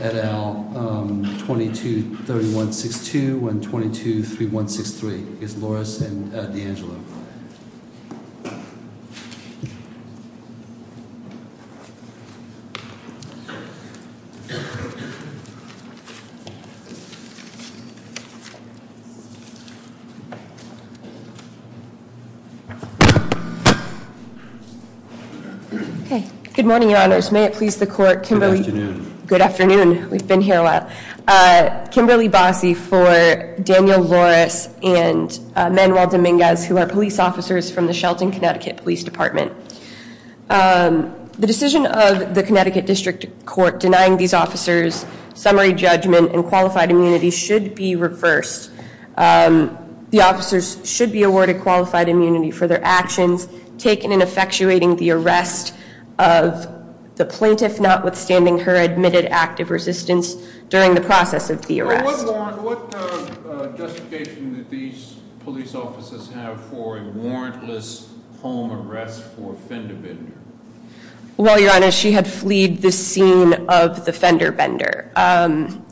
et al, 223162 and 223163. It's Loris and D'Angelo. Good morning, your honors. May it please the court. Good afternoon. We've been here a while. Kimberly Bossie for Daniel Loris and Manuel Dominguez, who are police officers from the Shelton, Connecticut Police Department. The decision of the Connecticut District Court denying these officers summary judgment and qualified immunity should be reversed. The officers should be awarded qualified immunity for their actions taken in effectuating the arrest of the plaintiff, notwithstanding her admitted active resistance during the process of the arrest. What justification do these police officers have for a warrantless home arrest for a fender bender? Well, your honor, she had fleed the scene of the fender bender.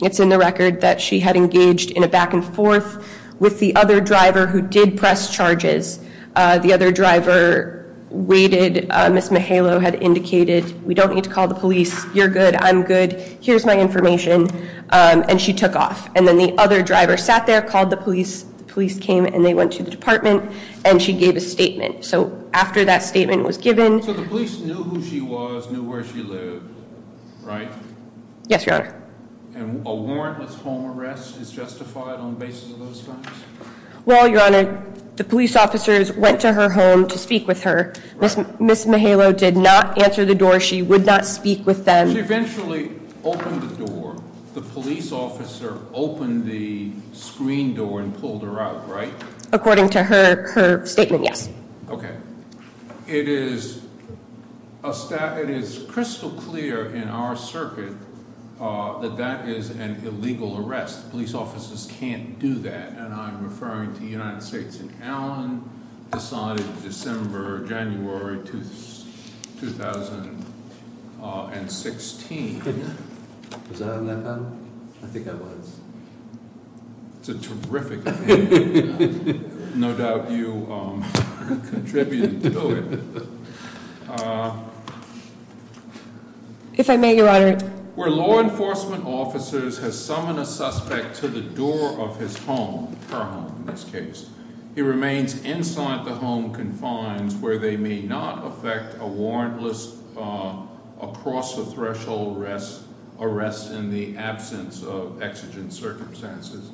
It's in the record that she had engaged in a back and forth with the other driver who did press charges. The other driver waited. Miss Mahalo had indicated we don't need to call the police. You're good. I'm good. Here's my information. And she took off. And then the other driver sat there, called the police. Police came and they went to the department and she gave a statement. So after that statement was given to the police, knew who she was, knew where she lived. Right. Yes, your honor. And a warrantless home arrest is justified on the basis of those facts? Well, your honor, the police officers went to her home to speak with her. Miss Mahalo did not answer the door. She would not speak with them. She eventually opened the door. The police officer opened the screen door and pulled her out, right? According to her statement, yes. Okay. It is crystal clear in our circuit that that is an illegal arrest. Police officers can't do that. And I'm referring to United States and Allen decided December, January 2016. Was I on that panel? I think I was. It's a terrific. No doubt you contributed to it. If I may, your honor. Where law enforcement officers has summoned a suspect to the door of his home, her home in this case. He remains inside the home confines where they may not affect a warrantless across the threshold. Rest arrest in the absence of exigent circumstances.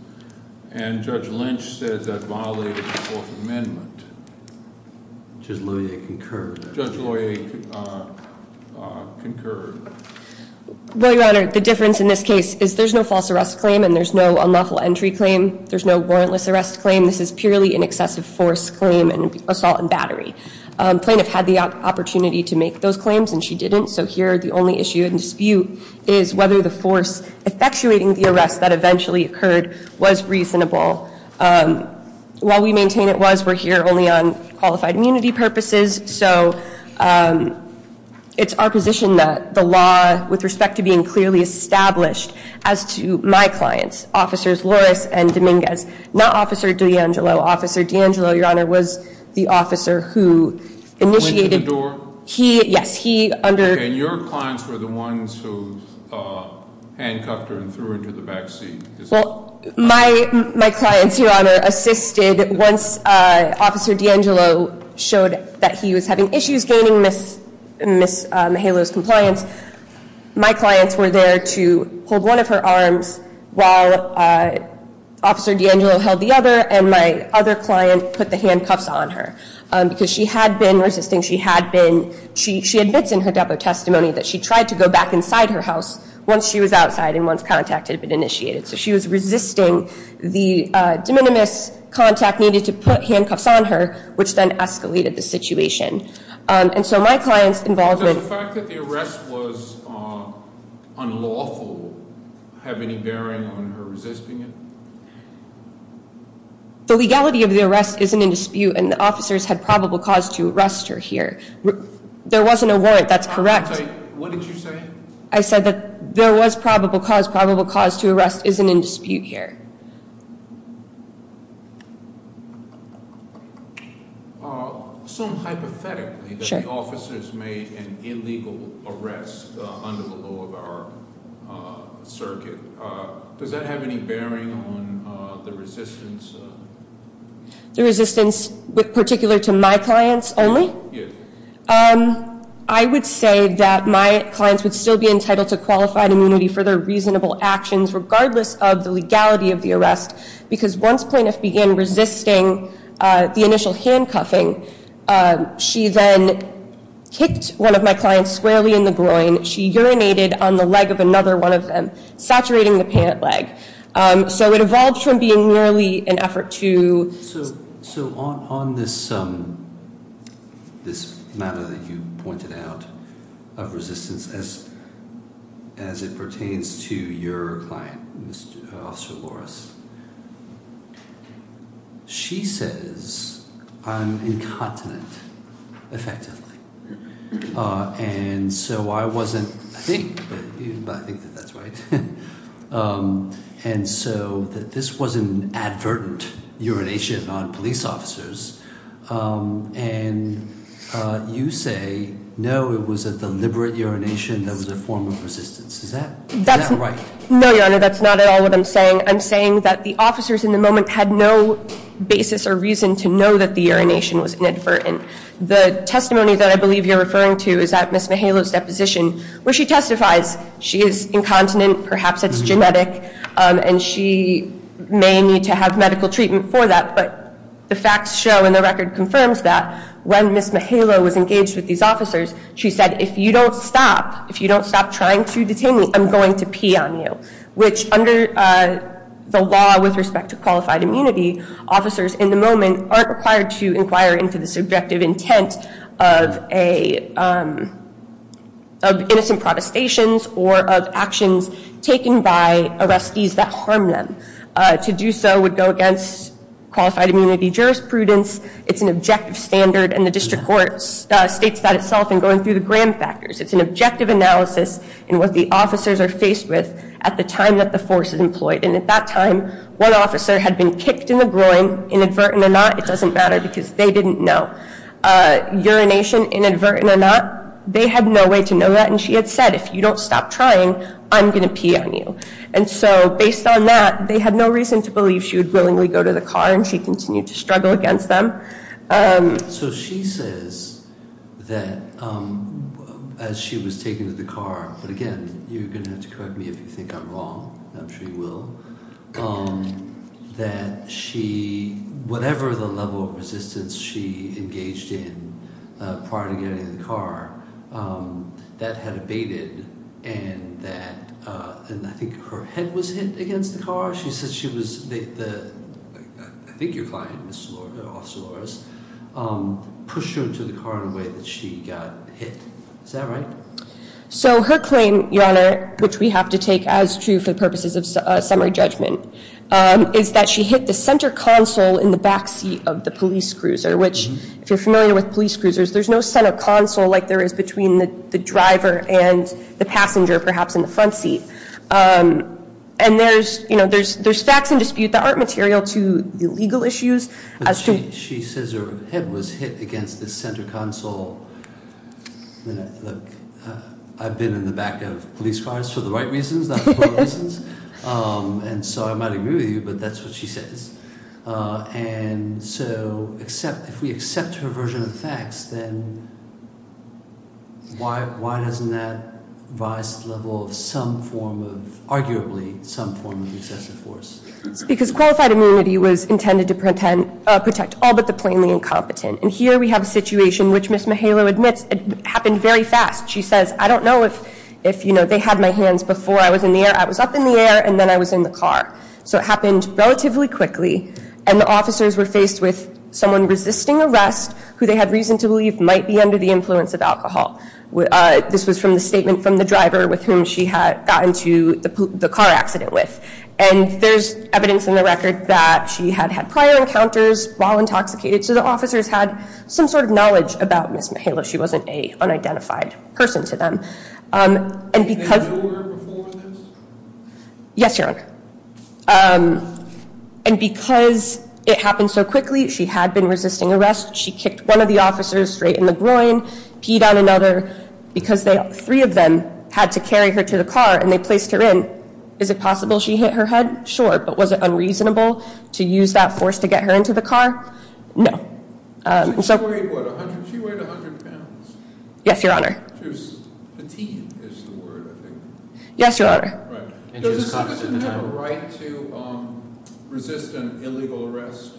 And Judge Lynch says that violated the Fourth Amendment. Just let me concur. Judge lawyer concur. Well, your honor, the difference in this case is there's no false arrest claim and there's no unlawful entry claim. There's no warrantless arrest claim. This is purely an excessive force claim and assault and battery. Plaintiff had the opportunity to make those claims and she didn't. So here the only issue and dispute is whether the force effectuating the arrest that eventually occurred was reasonable. While we maintain it was, we're here only on qualified immunity purposes. So it's our position that the law, with respect to being clearly established as to my clients, officers, Loris and Dominguez, not officer D'Angelo, officer D'Angelo, your honor, was the officer who initiated. Went to the door? He, yes, he under. And your clients were the ones who handcuffed her and threw her to the backseat. Well, my, my clients, your honor, assisted once officer D'Angelo showed that he was having issues gaining Miss Halo's compliance. My clients were there to hold one of her arms while officer D'Angelo held the other. And my other client put the handcuffs on her because she had been resisting. She had been, she admits in her depo testimony that she tried to go back inside her house once she was outside and once contact had been initiated. So she was resisting the de minimis contact needed to put handcuffs on her, which then escalated the situation. And so my client's involvement- Does the fact that the arrest was unlawful have any bearing on her resisting it? The legality of the arrest isn't in dispute and the officers had probable cause to arrest her here. There wasn't a warrant, that's correct. What did you say? I said that there was probable cause, probable cause to arrest isn't in dispute here. Assume hypothetically that the officers made an illegal arrest under the law of our circuit. Does that have any bearing on the resistance? The resistance with particular to my clients only? Yes. I would say that my clients would still be entitled to qualified immunity for their reasonable actions regardless of the legality of the arrest. Because once plaintiff began resisting the initial handcuffing, she then kicked one of my clients squarely in the groin. She urinated on the leg of another one of them, saturating the pant leg. So it evolved from being merely an effort to- So on this matter that you pointed out of resistance as it pertains to your client, Officer Loras, she says I'm incontinent effectively. And so I wasn't- I think that that's right. And so that this was an advertent urination on police officers. And you say, no, it was a deliberate urination that was a form of resistance. Is that right? No, Your Honor, that's not at all what I'm saying. I'm saying that the officers in the moment had no basis or reason to know that the urination was inadvertent. The testimony that I believe you're referring to is at Ms. Mihaylo's deposition where she testifies she is incontinent. Perhaps it's genetic. And she may need to have medical treatment for that. But the facts show and the record confirms that when Ms. Mihaylo was engaged with these officers, she said if you don't stop, if you don't stop trying to detain me, I'm going to pee on you. Which under the law with respect to qualified immunity, officers in the moment aren't required to inquire into the subjective intent of innocent protestations or of actions taken by arrestees that harm them. To do so would go against qualified immunity jurisprudence. It's an objective standard. And the district court states that itself in going through the gram factors. It's an objective analysis in what the officers are faced with at the time that the force is employed. And at that time, one officer had been kicked in the groin, inadvertent or not, it doesn't matter because they didn't know. Urination, inadvertent or not, they had no way to know that. And she had said, if you don't stop trying, I'm going to pee on you. And so based on that, they had no reason to believe she would willingly go to the car and she continued to struggle against them. So she says that as she was taken to the car, but again, you're going to have to correct me if you think I'm wrong. I'm sure you will. That she, whatever the level of resistance she engaged in prior to getting in the car, that had abated. And that, and I think her head was hit against the car. She said she was, I think your client, Officer Loras, pushed her into the car in a way that she got hit. Is that right? So her claim, Your Honor, which we have to take as true for the purposes of summary judgment, is that she hit the center console in the back seat of the police cruiser, which if you're familiar with police cruisers, there's no center console like there is between the driver and the passenger, perhaps in the front seat. And there's, you know, there's facts in dispute that aren't material to legal issues. She says her head was hit against the center console. I've been in the back of police cars for the right reasons, not the wrong reasons. And so I might agree with you, but that's what she says. And so if we accept her version of the facts, then why doesn't that rise to the level of some form of, arguably, some form of excessive force? Because qualified immunity was intended to protect all but the plainly incompetent. And here we have a situation which Ms. Mahalo admits happened very fast. She says, I don't know if, you know, they had my hands before I was in the air. I was up in the air, and then I was in the car. So it happened relatively quickly. And the officers were faced with someone resisting arrest, who they had reason to believe might be under the influence of alcohol. This was from the statement from the driver with whom she had gotten to the car accident with. And there's evidence in the record that she had had prior encounters while intoxicated. So the officers had some sort of knowledge about Ms. Mahalo. She wasn't an unidentified person to them. Did you know her before this? Yes, Your Honor. And because it happened so quickly, she had been resisting arrest. She kicked one of the officers straight in the groin, peed on another, because three of them had to carry her to the car, and they placed her in. Is it possible she hit her head? Sure. But was it unreasonable to use that force to get her into the car? No. She weighed, what, 100 pounds? Yes, Your Honor. She was petite, is the word, I think. Yes, Your Honor. Does this person have a right to resist an illegal arrest?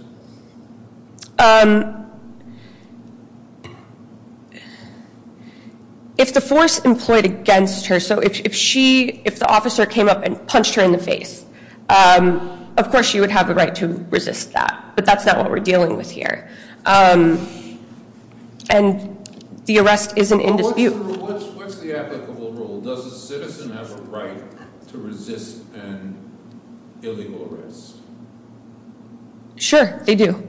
If the force employed against her, so if the officer came up and punched her in the face, of course she would have a right to resist that. But that's not what we're dealing with here. And the arrest isn't in dispute. What's the applicable rule? Does a citizen have a right to resist an illegal arrest? Sure, they do.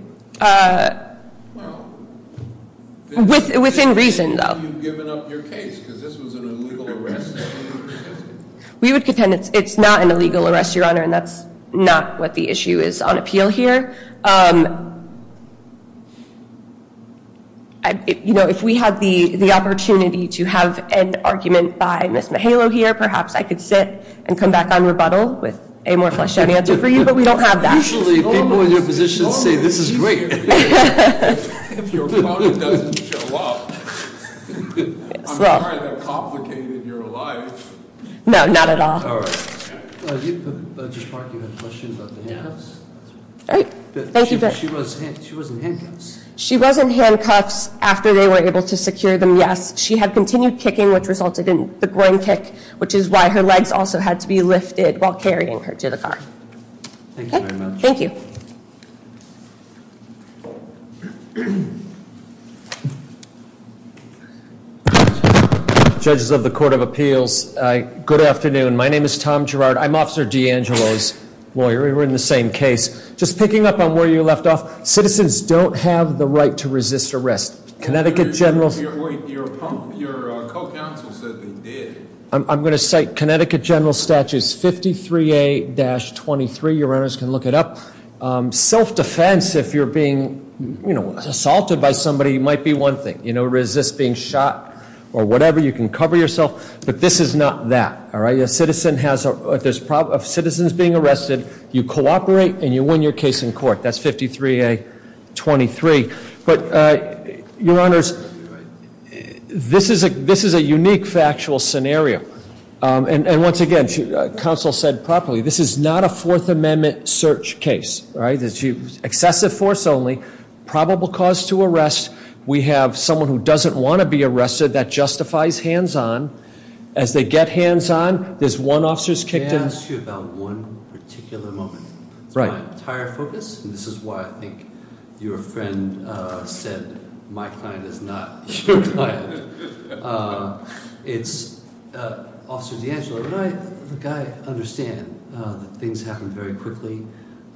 Within reason, though. You've given up your case because this was an illegal arrest. We would contend it's not an illegal arrest, Your Honor, and that's not what the issue is on appeal here. You know, if we had the opportunity to have an argument by Ms. Mahalo here, perhaps I could sit and come back on rebuttal with a more fleshed out answer for you, but we don't have that. Usually people in your position say this is great. If your opponent doesn't show up, I'm sorry they're complicating your life. No, not at all. All right. Judge Clark, you had questions about the handcuffs? She was in handcuffs. She was in handcuffs after they were able to secure them, yes. She had continued kicking, which resulted in the groin kick, which is why her legs also had to be lifted while carrying her to the car. Thank you very much. Thank you. Judges of the Court of Appeals, good afternoon. My name is Tom Gerard. I'm Officer D'Angelo's lawyer. We're in the same case. Just picking up on where you left off. Citizens don't have the right to resist arrest. Connecticut General. Wait, your co-counsel said they did. I'm going to cite Connecticut General Statutes 53A-23. Your honors can look it up. Self-defense, if you're being assaulted by somebody, might be one thing. You know, resist being shot or whatever. You can cover yourself, but this is not that. All right. If a citizen is being arrested, you cooperate and you win your case in court. That's 53A-23. But, your honors, this is a unique factual scenario. And once again, counsel said properly, this is not a Fourth Amendment search case. It's excessive force only, probable cause to arrest. We have someone who doesn't want to be arrested. That justifies hands-on. As they get hands-on, there's one officer who's kicked in. May I ask you about one particular moment? Right. It's my entire focus, and this is why I think your friend said my client is not your client. It's Officer DeAngelo. I understand that things happen very quickly,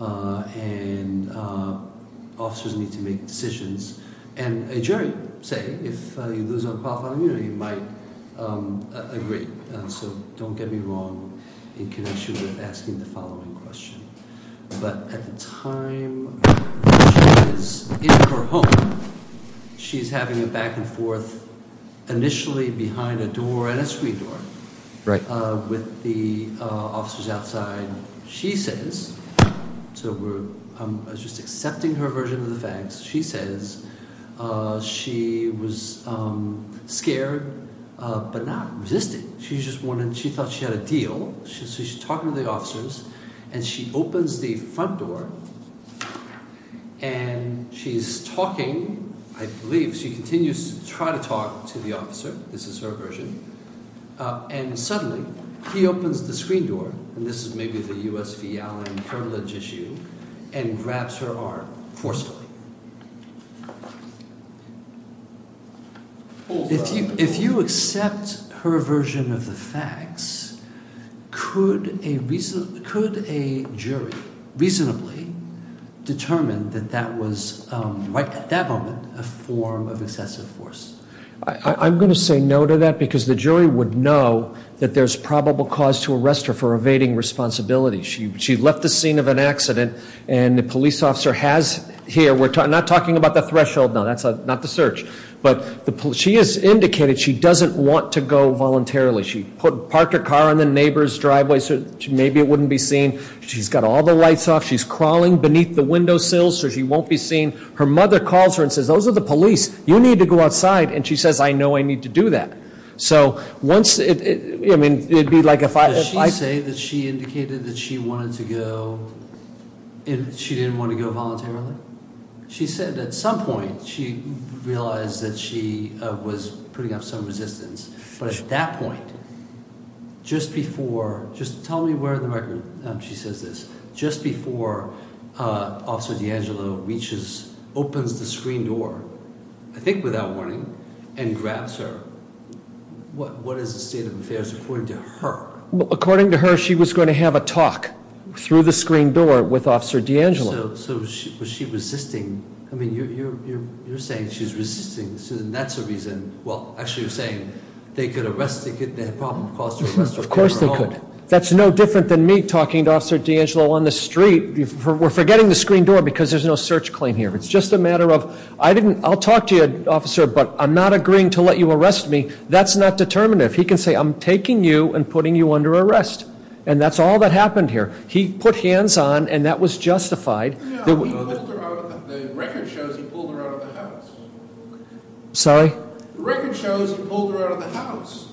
and officers need to make decisions. And a jury say, if you lose unqualified immunity, you might agree. So don't get me wrong in connection with asking the following question. But at the time she is in her home, she's having a back-and-forth initially behind a door and a screen door. Right. With the officers outside. So I was just accepting her version of the facts. She says she was scared but not resisting. She thought she had a deal. So she's talking to the officers, and she opens the front door, and she's talking. I believe she continues to try to talk to the officer. This is her version. And suddenly, he opens the screen door, and this is maybe the U.S. v. Allen curblidge issue, and grabs her arm forcefully. If you accept her version of the facts, could a jury reasonably determine that that was, right at that moment, a form of excessive force? I'm going to say no to that because the jury would know that there's probable cause to arrest her for evading responsibility. She left the scene of an accident, and the police officer has here, we're not talking about the threshold. No, that's not the search. But she has indicated she doesn't want to go voluntarily. She parked her car in the neighbor's driveway so maybe it wouldn't be seen. She's got all the lights off. She's crawling beneath the windowsill so she won't be seen. Her mother calls her and says, those are the police. You need to go outside. And she says, I know I need to do that. So once it, I mean, it'd be like if I- Did she say that she indicated that she wanted to go, and she didn't want to go voluntarily? She said at some point, she realized that she was putting up some resistance. But at that point, just before, just tell me where in the record she says this. Just before Officer D'Angelo reaches, opens the screen door, I think without warning, and grabs her, what is the state of affairs according to her? According to her, she was going to have a talk through the screen door with Officer D'Angelo. So was she resisting? I mean, you're saying she's resisting, and that's the reason. Well, actually, you're saying they could arrest her. Of course they could. That's no different than me talking to Officer D'Angelo on the street. We're forgetting the screen door because there's no search claim here. It's just a matter of, I'll talk to you, Officer, but I'm not agreeing to let you arrest me. That's not determinative. He can say, I'm taking you and putting you under arrest. And that's all that happened here. He put hands on, and that was justified. The record shows he pulled her out of the house. Sorry? The record shows he pulled her out of the house.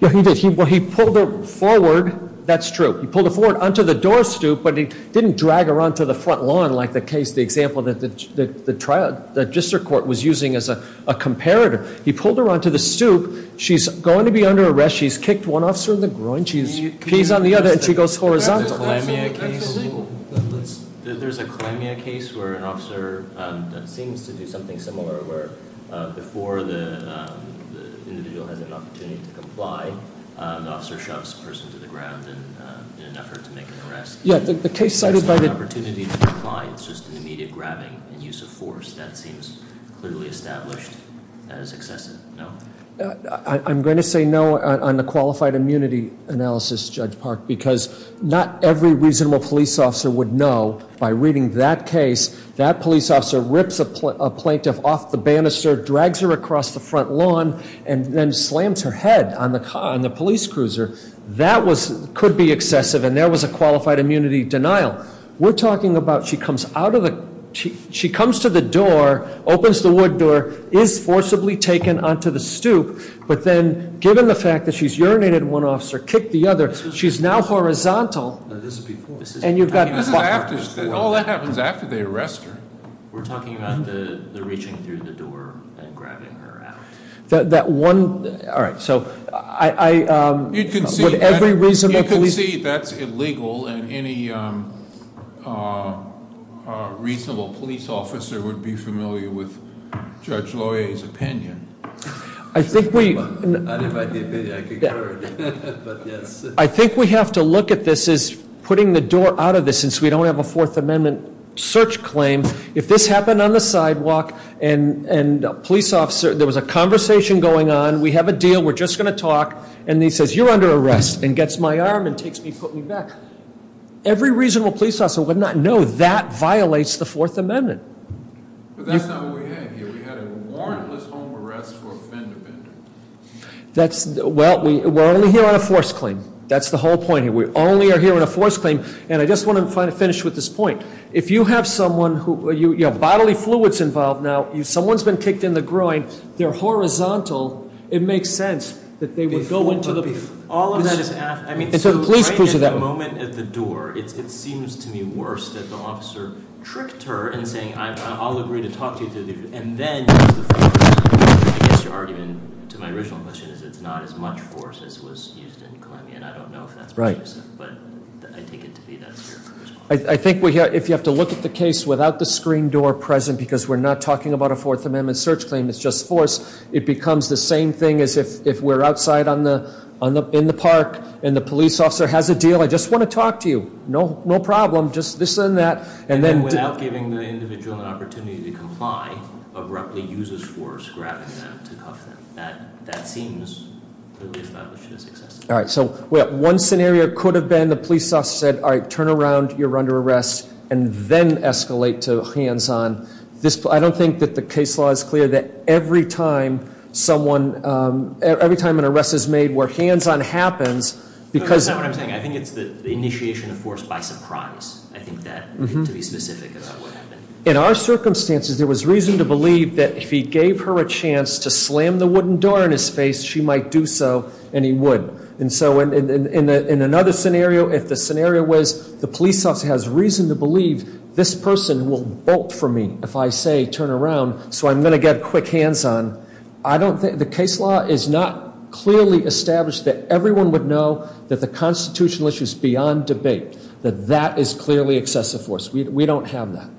Yeah, he did. He pulled her forward. That's true. He pulled her forward onto the door stoop, but he didn't drag her onto the front lawn like the case, the example that the district court was using as a comparator. He pulled her onto the stoop. She's going to be under arrest. She's kicked one officer in the groin. She pees on the other, and she goes horizontal. That's illegal. There's a Calamia case where an officer seems to do something similar where before the individual has an opportunity to comply, the officer shoves the person to the ground in an effort to make an arrest. Yeah, the case cited by the There's no opportunity to comply. It's just an immediate grabbing and use of force. That seems clearly established as excessive. No? I'm going to say no on the qualified immunity analysis, Judge Park, because not every reasonable police officer would know by reading that case that police officer rips a plaintiff off the banister, drags her across the front lawn, and then slams her head on the police cruiser. That could be excessive, and there was a qualified immunity denial. We're talking about she comes out of the, she comes to the door, opens the wood door, is forcibly taken onto the stoop. But then, given the fact that she's urinated in one officer, kicked the other, she's now horizontal. No, this is before. And you've got This is after, all that happens after they arrest her. We're talking about the reaching through the door and grabbing her out. That one, all right, so I You can see You can see that's illegal, and any reasonable police officer would be familiar with Judge Loya's opinion. I think we Not if I did, I concur, but yes I think we have to look at this as putting the door out of this, since we don't have a Fourth Amendment search claim. If this happened on the sidewalk, and a police officer, there was a conversation going on. We have a deal. We're just going to talk. And he says, you're under arrest, and gets my arm, and takes me, puts me back. Every reasonable police officer would not know that violates the Fourth Amendment. But that's not what we had here. We had a warrantless home arrest for a fender bender. That's, well, we're only here on a force claim. That's the whole point here. We only are here on a force claim. And I just want to finish with this point. If you have someone who, you know, bodily fluid's involved now. Someone's been kicked in the groin. They're horizontal. It makes sense that they would go into the All of that is after. I mean, so right at the moment at the door, it seems to me worse that the officer tricked her in saying, I'll agree to talk to you. And then used the force. I guess your argument to my original question is it's not as much force as was used in climbing. And I don't know if that's right. But I take it to be that's your first point. I think if you have to look at the case without the screen door present, because we're not talking about a Fourth Amendment search claim. It's just force. It becomes the same thing as if we're outside in the park. And the police officer has a deal. I just want to talk to you. No problem. Just this and that. And then without giving the individual an opportunity to comply, abruptly uses force, grabbing them to cuff them. That seems to me is not what should have succeeded. All right. So one scenario could have been the police officer said, all right. You're under arrest. And then escalate to hands-on. I don't think that the case law is clear that every time someone, every time an arrest is made where hands-on happens, because- That's not what I'm saying. I think it's the initiation of force by surprise. I think that to be specific about what happened. In our circumstances, there was reason to believe that if he gave her a chance to slam the wooden door in his face, she might do so. And he would. And so in another scenario, if the scenario was the police officer has reason to believe this person will bolt for me if I say turn around, so I'm going to get quick hands-on. I don't think the case law is not clearly established that everyone would know that the constitutional issue is beyond debate. That that is clearly excessive force. We don't have that.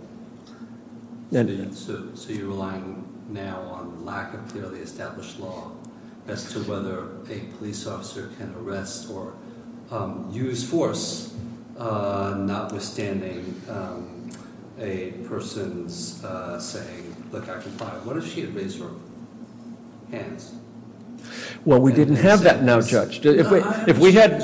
So you're relying now on lack of clearly established law as to whether a police officer can arrest or use force, notwithstanding a person's saying, look, I comply. What if she had raised her hands? Well, we didn't have that now, Judge. If we had,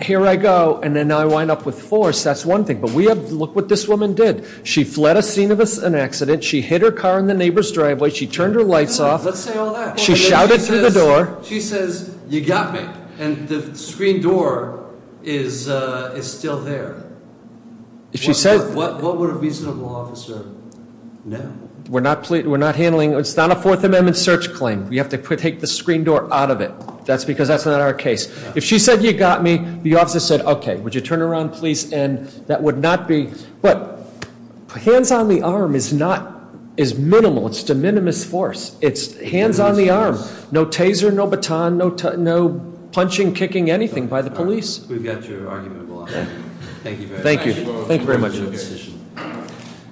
here I go, and then I wind up with force, that's one thing. But we have, look what this woman did. She fled a scene of an accident. She hit her car in the neighbor's driveway. She turned her lights off. Let's say all that. She shouted through the door. She says, you got me. And the screen door is still there. What would a reasonable officer know? We're not handling, it's not a Fourth Amendment search claim. We have to take the screen door out of it. That's because that's not our case. If she said, you got me, the officer said, okay, would you turn around, please, and that would not be. But hands on the arm is minimal. It's de minimis force. It's hands on the arm. No taser, no baton, no punching, kicking, anything by the police. We've got your argument. Thank you very much. Thank you. Thank you very much.